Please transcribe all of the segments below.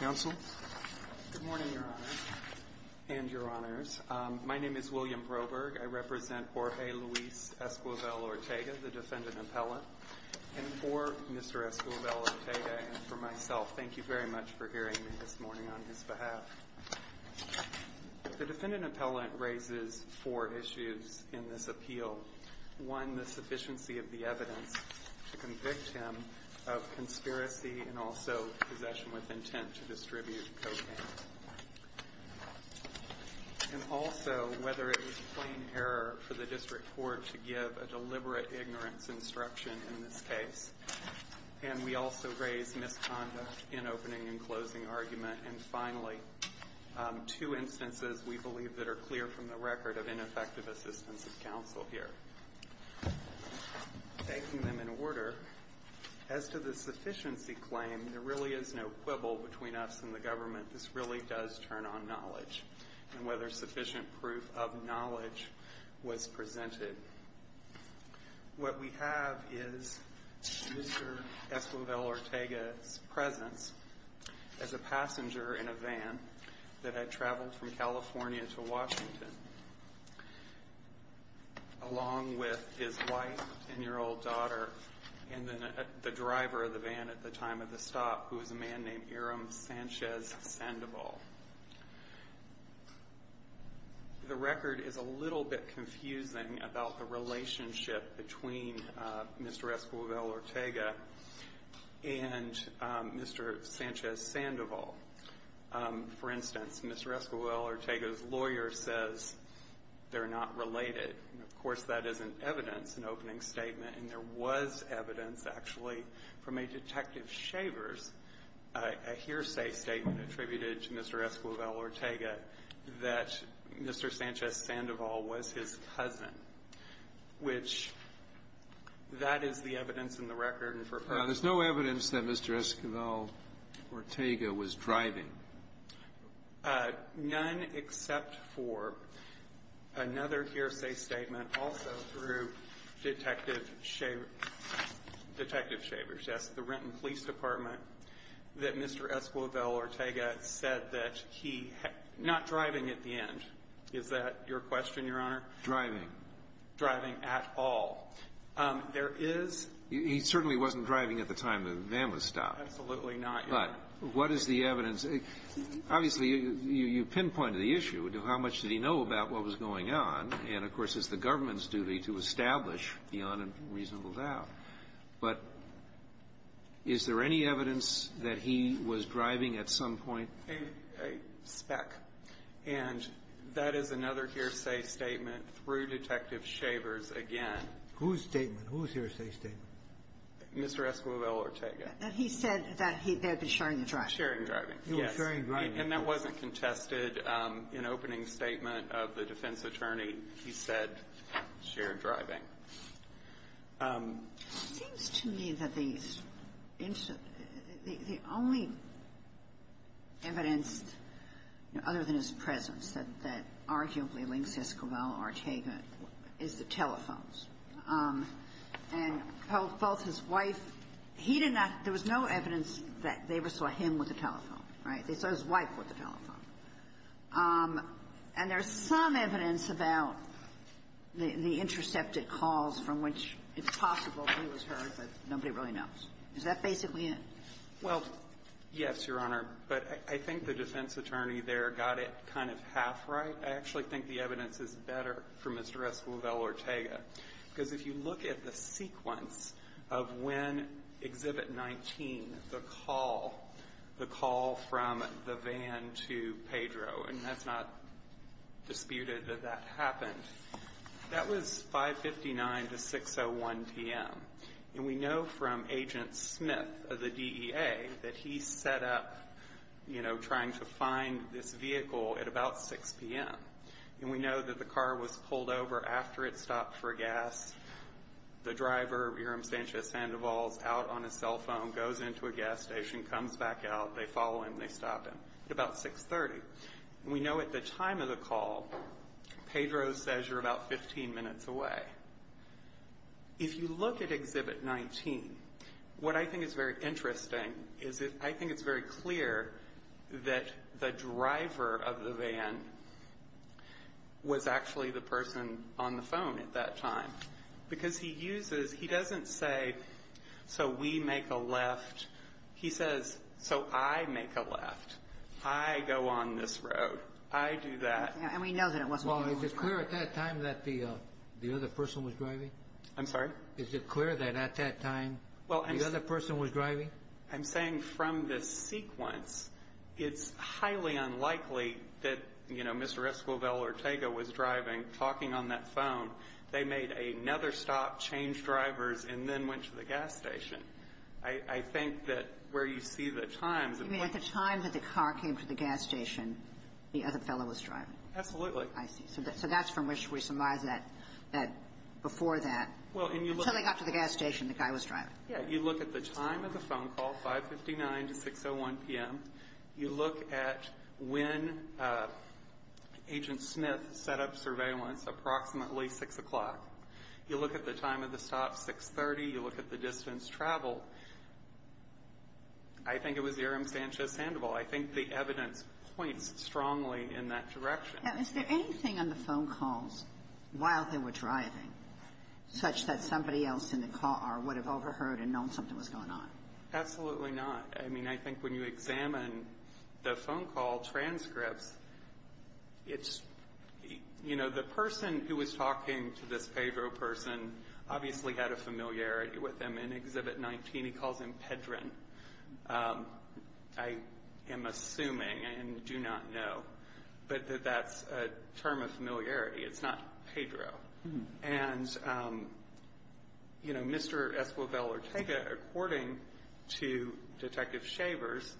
Good morning, Your Honors, and Your Honors. My name is William Broberg. I represent Jorge Luis Esquivel-Ortega, the defendant appellant. And for Mr. Esquivel-Ortega and for myself, thank you very much for hearing me this morning on his behalf. The defendant appellant raises four issues in this appeal. One, the sufficiency of the evidence to convict him of conspiracy and also possession with intent to distribute cocaine. And also, whether it was plain error for the district court to give a deliberate ignorance instruction in this case. And we also raise misconduct in opening and closing argument. And finally, two instances we believe that are clear from the record of ineffective assistance of counsel here. Taking them in order, as to the sufficiency claim, there really is no quibble between us and the government. This really does turn on knowledge and whether sufficient proof of knowledge was presented. What we have is Mr. Esquivel-Ortega's presence as a passenger in a van that had traveled from California to Washington. Along with his wife and 10-year-old daughter and the driver of the van at the time of the stop, who was a man named Aram Sanchez Sandoval. The record is a little bit confusing about the relationship between Mr. Esquivel-Ortega and Mr. Sanchez Sandoval. For instance, Mr. Esquivel-Ortega's lawyer says they're not related. And, of course, that isn't evidence in opening statement. And there was evidence, actually, from a Detective Shavers, a hearsay statement attributed to Mr. Esquivel-Ortega, that Mr. Sanchez Sandoval was his cousin, which that is the evidence in the record and for her. There's no evidence that Mr. Esquivel-Ortega was driving. None except for another hearsay statement also through Detective Shavers. That's the Renton Police Department that Mr. Esquivel-Ortega said that he not driving at the end. Is that your question, Your Honor? Driving. Driving at all. There is. He certainly wasn't driving at the time the van was stopped. Absolutely not. But what is the evidence? Obviously, you pinpointed the issue. How much did he know about what was going on? And, of course, it's the government's duty to establish beyond a reasonable doubt. But is there any evidence that he was driving at some point? A speck. And that is another hearsay statement through Detective Shavers again. Whose statement? Whose hearsay statement? Mr. Esquivel-Ortega. That he said that he had been sharing the driving. Sharing driving. Yes. Sharing driving. And that wasn't contested in opening statement of the defense attorney. He said sharing driving. It seems to me that the only evidence other than his presence that arguably links Esquivel-Ortega is the telephones. And both his wife, he did not – there was no evidence that they saw him with a telephone. Right? They saw his wife with a telephone. And there's some evidence about the intercepted calls from which it's possible he was heard, but nobody really knows. Is that basically it? Well, yes, Your Honor. But I think the defense attorney there got it kind of half right. I actually think the evidence is better for Mr. Esquivel-Ortega. Because if you look at the sequence of when Exhibit 19, the call, the call from the van to Pedro, and that's not disputed that that happened, that was 5.59 to 6.01 p.m. And we know from Agent Smith of the DEA that he set up, you know, trying to find this vehicle at about 6 p.m. And we know that the car was pulled over after it stopped for gas. The driver, Iram Sanchez-Sandoval, is out on his cell phone, goes into a gas station, comes back out, they follow him, they stop him at about 6.30. And we know at the time of the call, Pedro says you're about 15 minutes away. If you look at Exhibit 19, what I think is very interesting is I think it's very clear that the driver of the van was actually the person on the phone at that time. Because he uses, he doesn't say, so we make a left. He says, so I make a left. I go on this road. And we know that it wasn't you. Mr. Sandoval, is it clear at that time that the other person was driving? I'm sorry? Is it clear that at that time the other person was driving? I'm saying from this sequence, it's highly unlikely that, you know, Mr. Esquivel or Ortega was driving, talking on that phone. They made another stop, changed drivers, and then went to the gas station. I think that where you see the times. You mean at the time that the car came to the gas station, the other fellow was driving? Absolutely. I see. So that's from which we surmise that before that, until they got to the gas station, the guy was driving. Yeah. You look at the time of the phone call, 559 to 601 p.m. You look at when Agent Smith set up surveillance, approximately 6 o'clock. You look at the time of the stop, 630. You look at the distance traveled. I think it was Aram Sanchez-Sandoval. I think the evidence points strongly in that direction. Now, is there anything on the phone calls while they were driving such that somebody else in the car would have overheard and known something was going on? Absolutely not. I mean, I think when you examine the phone call transcripts, it's, you know, the person who was talking to this Pedro person obviously had a familiarity with him in Exhibit 19. He calls him Pedrin. I am assuming and do not know, but that that's a term of familiarity. It's not Pedro. And, you know, Mr. Esquivel Ortega, according to Detective Shavers,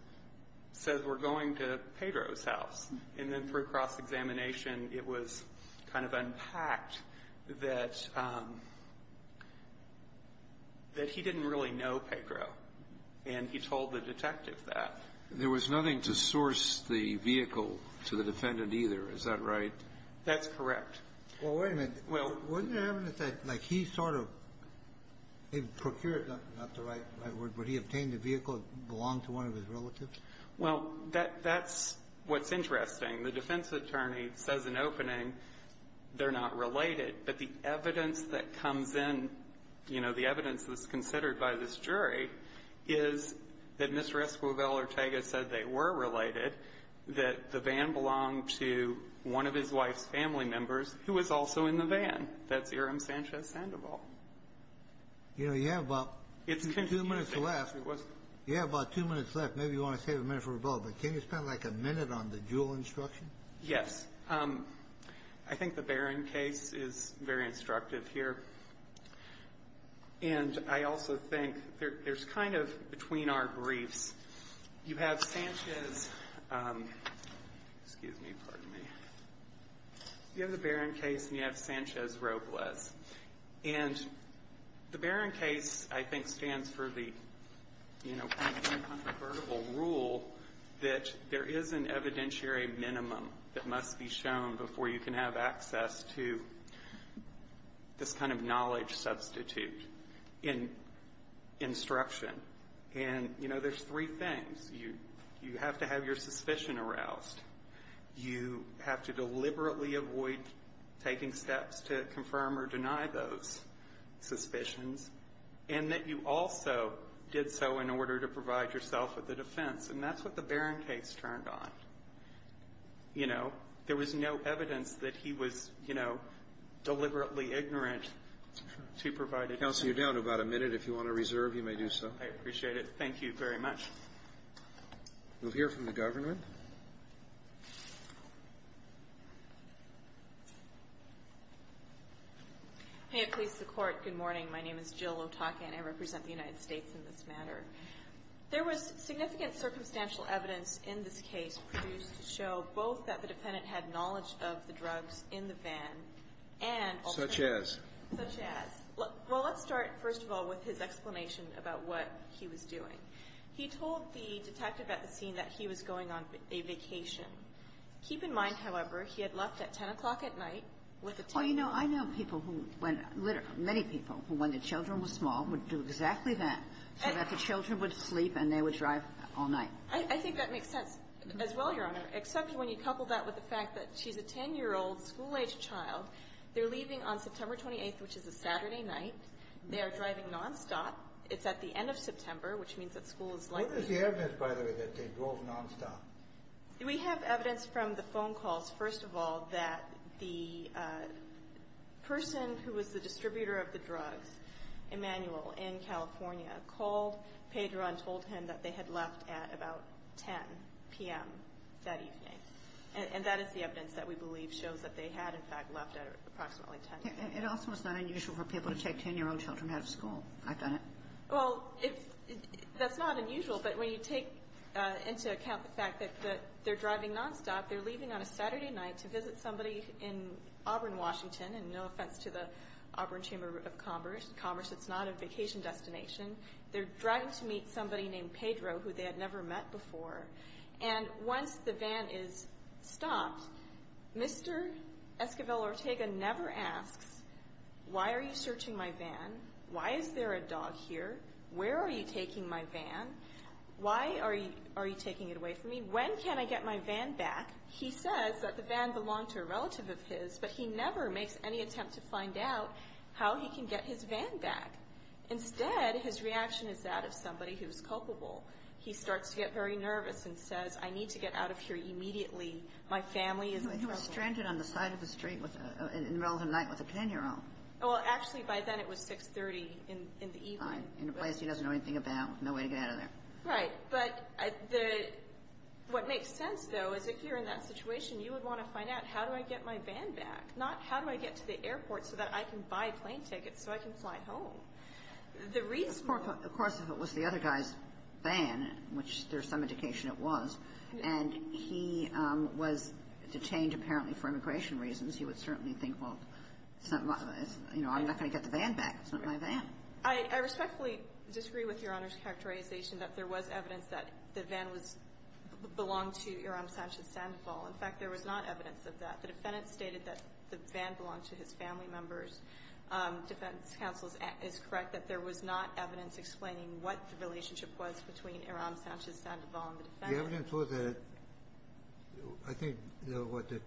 says we're going to Pedro's house. And then through cross-examination, it was kind of unpacked that he didn't really know Pedro. And he told the detective that. There was nothing to source the vehicle to the defendant either. Is that right? That's correct. Well, wait a minute. Wasn't there evidence that, like, he sort of procured, not the right word, but he obtained a vehicle that belonged to one of his relatives? Well, that's what's interesting. The defense attorney says in opening they're not related, but the evidence that comes in, you know, the evidence that's considered by this jury is that Mr. Esquivel Ortega said they were related, that the van belonged to one of his wife's family members who was also in the van. That's Irem Sanchez-Sandoval. You know, you have about two minutes left. You have about two minutes left. Maybe you want to save a minute for Revella, but can you spend, like, a minute on the Jewell instruction? Yes. I think the Barron case is very instructive here, and I also think there's kind of, between our briefs, you have Sanchez Excuse me. Pardon me. You have the Barron case, and you have Sanchez-Robles. And the Barron case, I think, stands for the, you know, controversial rule that there is an evidentiary minimum that must be shown before you can have access to this kind of knowledge substitute in instruction. And, you know, there's three things. You have to have your suspicion aroused. You have to deliberately avoid taking steps to confirm or deny those suspicions. And that you also did so in order to provide yourself with a defense. And that's what the Barron case turned on. You know, there was no evidence that he was, you know, deliberately ignorant to provide a defense. Counsel, you're down to about a minute. If you want to reserve, you may do so. I appreciate it. Thank you very much. We'll hear from the government. May it please the Court, good morning. My name is Jill Otake, and I represent the United States in this matter. There was significant circumstantial evidence in this case produced to show both that the defendant had knowledge of the drugs in the van, and also that the defendant Such as? Such as. Well, let's start, first of all, with his explanation about what he was doing. He told the detective at the scene that he was going on a vacation. Keep in mind, however, he had left at 10 o'clock at night with a table. Well, you know, I know people who went, many people who, when their children were small, would do exactly that, so that the children would sleep and they would drive all night. I think that makes sense as well, Your Honor, except when you couple that with the fact that she's a 10-year-old school-aged child. They're leaving on September 28th, which is a Saturday night. They are driving nonstop. It's at the end of September, which means that school is likely to be open. What is the evidence, by the way, that they drove nonstop? We have evidence from the phone calls, first of all, that the person who was the distributor of the drugs, Emanuel, in California, called Pedro and told him that they had left at about 10 p.m. that evening. And that is the evidence that we believe shows that they had, in fact, left at approximately 10 p.m. It also is not unusual for people to take 10-year-old children out of school. I've done it. Well, that's not unusual, but when you take into account the fact that they're driving nonstop, they're leaving on a Saturday night to visit somebody in Auburn, Washington, and no offense to the Auburn Chamber of Commerce. It's not a vacation destination. They're driving to meet somebody named Pedro, who they had never met before. And once the van is stopped, Mr. Esquivel-Ortega never asks, Why are you searching my van? Why is there a dog here? Where are you taking my van? Why are you taking it away from me? When can I get my van back? He says that the van belonged to a relative of his, but he never makes any attempt to find out how he can get his van back. Instead, his reaction is that of somebody who is culpable. He starts to get very nervous and says, I need to get out of here immediately. My family is in trouble. Well, actually, by then it was 6.30 in the evening. In a place he doesn't know anything about, no way to get out of there. Right. But what makes sense, though, is if you're in that situation, you would want to find out how do I get my van back, not how do I get to the airport so that I can buy plane tickets so I can fly home. Of course, if it was the other guy's van, which there's some indication it was, and he was detained apparently for immigration reasons, he would certainly think, well, I'm not going to get the van back. It's not my van. I respectfully disagree with Your Honor's characterization that there was evidence that the van belonged to Iram Sanchez-Sandoval. In fact, there was not evidence of that. The defendant stated that the van belonged to his family members. Defense counsel is correct that there was not evidence explaining what the relationship was between Iram Sanchez-Sandoval and the defendant. The evidence was that I think, you know, what, the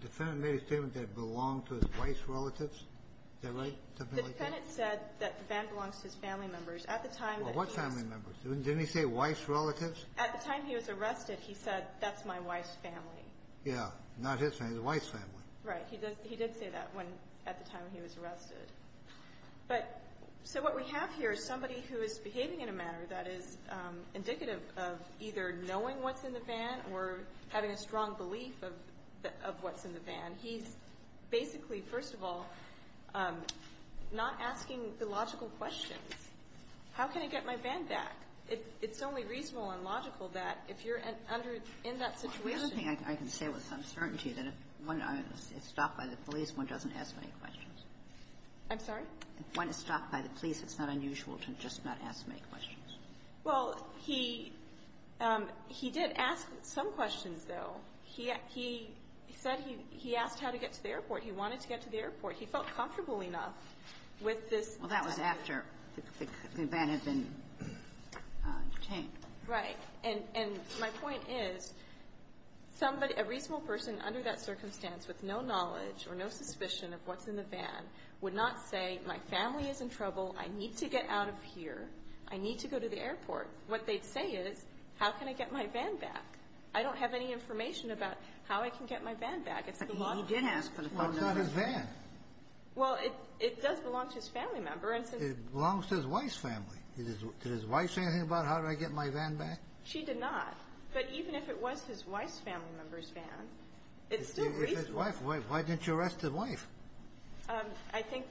defendant made a statement that it belonged to his wife's relatives. Is that right? Something like that? The defendant said that the van belongs to his family members. At the time that he was ---- Well, what family members? Didn't he say wife's relatives? At the time he was arrested, he said, that's my wife's family. Yeah. Not his family. The wife's family. Right. He did say that when at the time he was arrested. But so what we have here is somebody who is behaving in a manner that is indicative of either knowing what's in the van or having a strong belief of what's in the van. He's basically, first of all, not asking the logical questions. How can I get my van back? It's only reasonable and logical that if you're under ---- in that situation ---- Well, the other thing I can say with some certainty that if one is stopped by the police, one doesn't ask many questions. I'm sorry? If one is stopped by the police, it's not unusual to just not ask many questions. Well, he did ask some questions, though. He said he asked how to get to the airport. He wanted to get to the airport. He felt comfortable enough with this ---- Well, that was after the van had been detained. Right. And my point is, somebody, a reasonable person under that circumstance with no knowledge or no suspicion of what's in the van would not say, my family is in trouble, I need to get out of here, I need to go to the airport. What they'd say is, how can I get my van back? I don't have any information about how I can get my van back. It's the law. But he did ask for the phone number. Well, it's not his van. Well, it does belong to his family member. It belongs to his wife's family. Did his wife say anything about how do I get my van back? She did not. But even if it was his wife's family member's van, it's still reasonable. It was his wife. Why didn't you arrest his wife? I think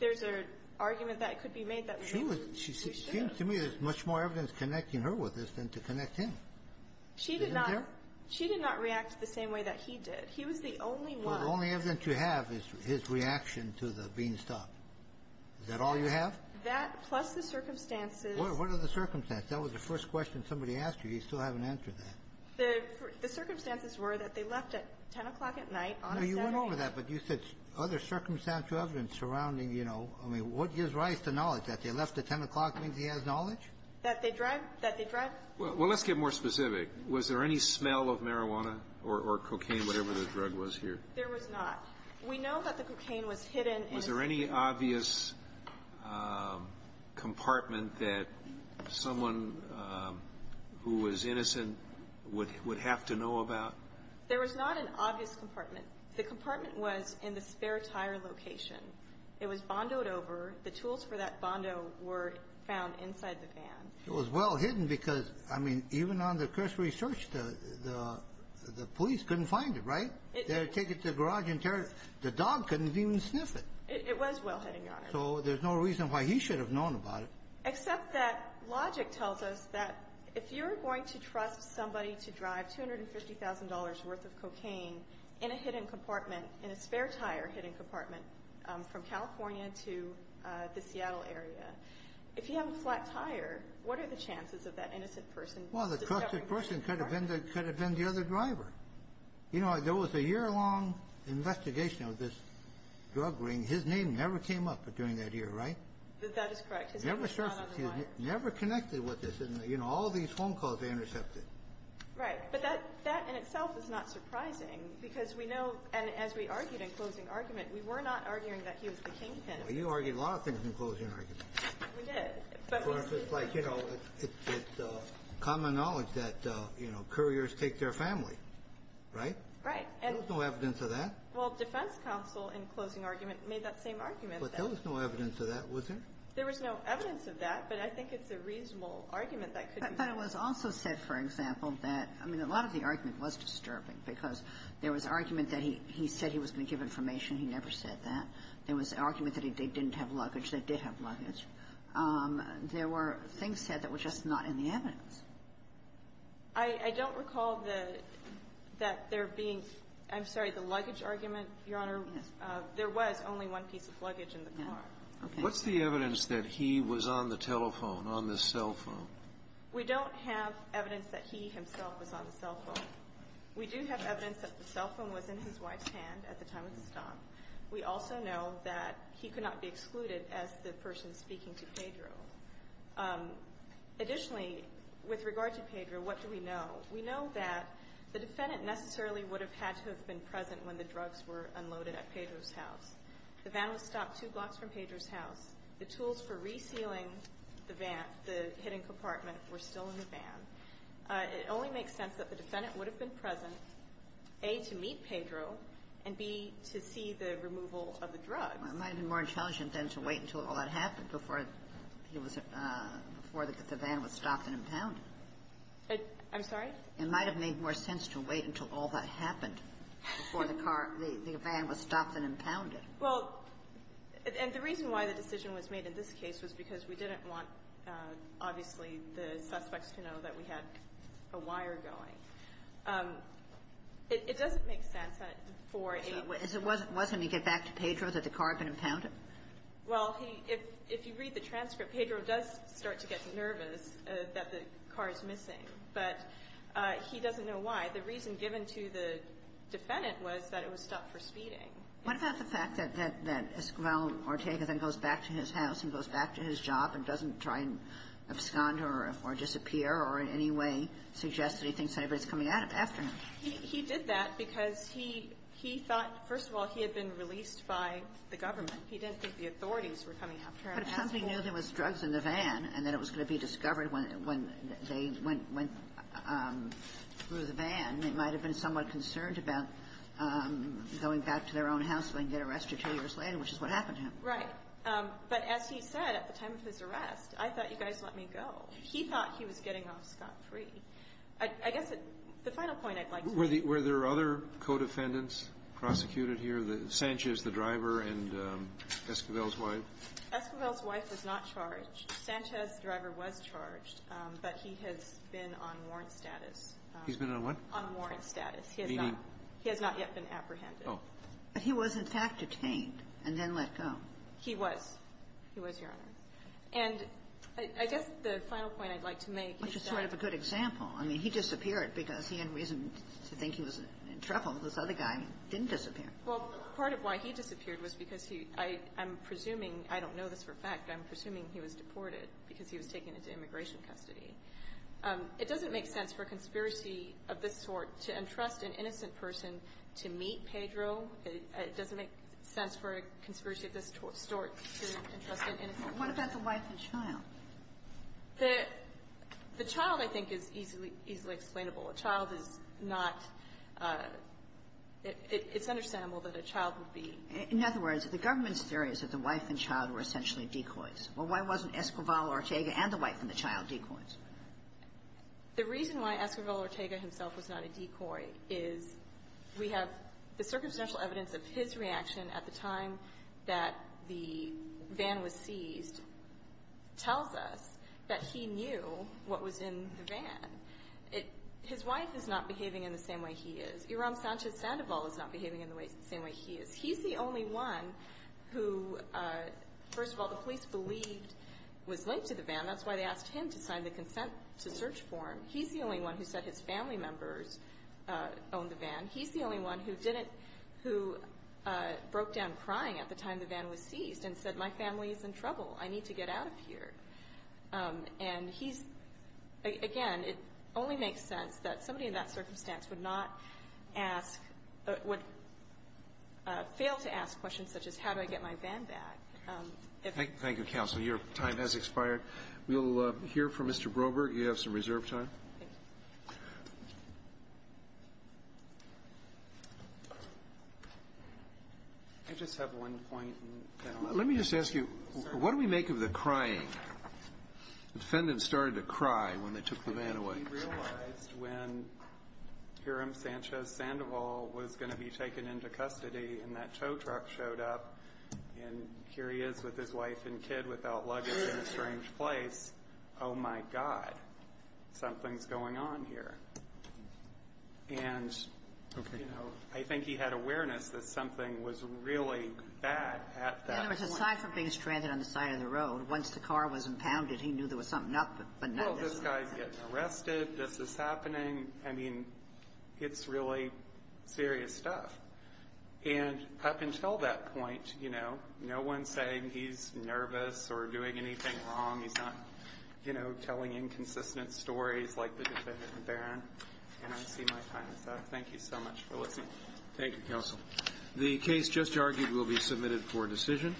there's an argument that could be made that we should have. It seems to me there's much more evidence connecting her with this than to connect him. Isn't there? She did not react the same way that he did. He was the only one. Well, the only evidence you have is his reaction to the Beanstalk. Is that all you have? That, plus the circumstances. What are the circumstances? That was the first question somebody asked you. The circumstances were that they left at 10 o'clock at night on a Saturday. No, you went over that. But you said other circumstances surrounding, you know. I mean, what gives rise to knowledge? That they left at 10 o'clock means he has knowledge? That they drive. Well, let's get more specific. Was there any smell of marijuana or cocaine, whatever the drug was here? There was not. We know that the cocaine was hidden. Was there any obvious compartment that someone who was innocent would have to know about? There was not an obvious compartment. The compartment was in the spare tire location. It was bondoed over. The tools for that bondo were found inside the van. It was well hidden because, I mean, even on the cursory search, the police couldn't find it, right? They had to take it to the garage and tear it. The dog couldn't even sniff it. It was well hidden, Your Honor. So there's no reason why he should have known about it. Except that logic tells us that if you're going to trust somebody to drive $250,000 worth of cocaine in a hidden compartment, in a spare tire hidden compartment from California to the Seattle area, if you have a flat tire, what are the chances of that innocent person discovering cocaine? Well, the trusted person could have been the other driver. You know, there was a year-long investigation of this drug ring. His name never came up during that year, right? That is correct. Never surfaced. Never connected with this. And, you know, all these phone calls, they intercepted. Right. But that in itself is not surprising because we know, and as we argued in closing argument, we were not arguing that he was the kingpin. Well, you argued a lot of things in closing argument. We did. Like, you know, it's common knowledge that, you know, couriers take their family, right? Right. There was no evidence of that. Well, defense counsel in closing argument made that same argument. But there was no evidence of that, was there? There was no evidence of that, but I think it's a reasonable argument that could be used. But it was also said, for example, that, I mean, a lot of the argument was disturbing because there was argument that he said he was going to give information. He never said that. There was argument that they didn't have luggage. They did have luggage. There were things said that were just not in the evidence. I don't recall that there being – I'm sorry, the luggage argument, Your Honor. Yes. There was only one piece of luggage in the car. What's the evidence that he was on the telephone, on the cell phone? We don't have evidence that he himself was on the cell phone. We do have evidence that the cell phone was in his wife's hand at the time of the stop. We also know that he could not be excluded as the person speaking to Pedro. Additionally, with regard to Pedro, what do we know? We know that the defendant necessarily would have had to have been present when the drugs were unloaded at Pedro's house. The van was stopped two blocks from Pedro's house. The tools for resealing the van, the hidden compartment, were still in the van. It only makes sense that the defendant would have been present, A, to meet Pedro, and, B, to see the removal of the drugs. It might have been more intelligent then to wait until all that happened before he was – before the van was stopped and impounded. I'm sorry? It might have made more sense to wait until all that happened before the car – the Well, and the reason why the decision was made in this case was because we didn't want, obviously, the suspects to know that we had a wire going. It doesn't make sense that for a – So it wasn't when you get back to Pedro that the car had been impounded? Well, he – if you read the transcript, Pedro does start to get nervous that the car is missing, but he doesn't know why. The reason given to the defendant was that it was stopped for speeding. What about the fact that Ismael Ortega then goes back to his house and goes back to his job and doesn't try and abscond or disappear or in any way suggest that he thinks anybody is coming after him? He did that because he thought, first of all, he had been released by the government. He didn't think the authorities were coming after him. But if somebody knew there was drugs in the van and that it was going to be discovered when they went through the van, they might have been somewhat concerned about going back out to their own house and getting arrested two years later, which is what happened to him. Right. But as he said at the time of his arrest, I thought you guys let me go. He thought he was getting off scot-free. I guess the final point I'd like to make – Were there other co-defendants prosecuted here? Sanchez, the driver, and Esquivel's wife? Esquivel's wife was not charged. Sanchez, the driver, was charged, but he has been on warrant status. He's been on what? On warrant status. Meaning? He has not yet been apprehended. Oh. But he was, in fact, detained and then let go. He was. He was, Your Honor. And I guess the final point I'd like to make is that – Which is sort of a good example. I mean, he disappeared because he had reason to think he was in trouble. This other guy didn't disappear. Well, part of why he disappeared was because he – I'm presuming – I don't know this for a fact, but I'm presuming he was deported because he was taken into immigration custody. It doesn't make sense for a conspiracy of this sort to entrust an innocent person to meet Pedro. It doesn't make sense for a conspiracy of this sort to entrust an innocent person. What about the wife and child? The child, I think, is easily – easily explainable. A child is not – it's understandable that a child would be – In other words, the government's theory is that the wife and child were essentially decoys. Well, why wasn't Esquivel Ortega and the wife and the child decoys? The reason why Esquivel Ortega himself was not a decoy is we have the circumstantial evidence of his reaction at the time that the van was seized tells us that he knew what was in the van. His wife is not behaving in the same way he is. Iram Sanchez-Sandoval is not behaving in the same way he is. He's the only one who, first of all, the police believed was linked to the van. That's why they asked him to sign the consent to search form. He's the only one who said his family members owned the van. He's the only one who didn't – who broke down crying at the time the van was seized and said, my family is in trouble. I need to get out of here. And he's – again, it only makes sense that somebody in that circumstance would not ask – would fail to ask questions such as, how do I get my van back? Thank you, Counsel. Your time has expired. We'll hear from Mr. Broberg. You have some reserve time. I just have one point. Let me just ask you, what do we make of the crying? The defendants started to cry when they took the van away. We realized when Iram Sanchez-Sandoval was going to be taken into custody and that he is with his wife and kid without luggage in a strange place, oh, my God, something's going on here. And, you know, I think he had awareness that something was really bad at that point. In other words, aside from being stranded on the side of the road, once the car was impounded, he knew there was something up. Well, this guy's getting arrested. This is happening. I mean, it's really serious stuff. And up until that point, you know, no one's saying he's nervous or doing anything wrong. He's not, you know, telling inconsistent stories like the defendant in the van. And I see my time is up. Thank you so much for listening. Thank you, Counsel. The case just argued will be submitted for decision.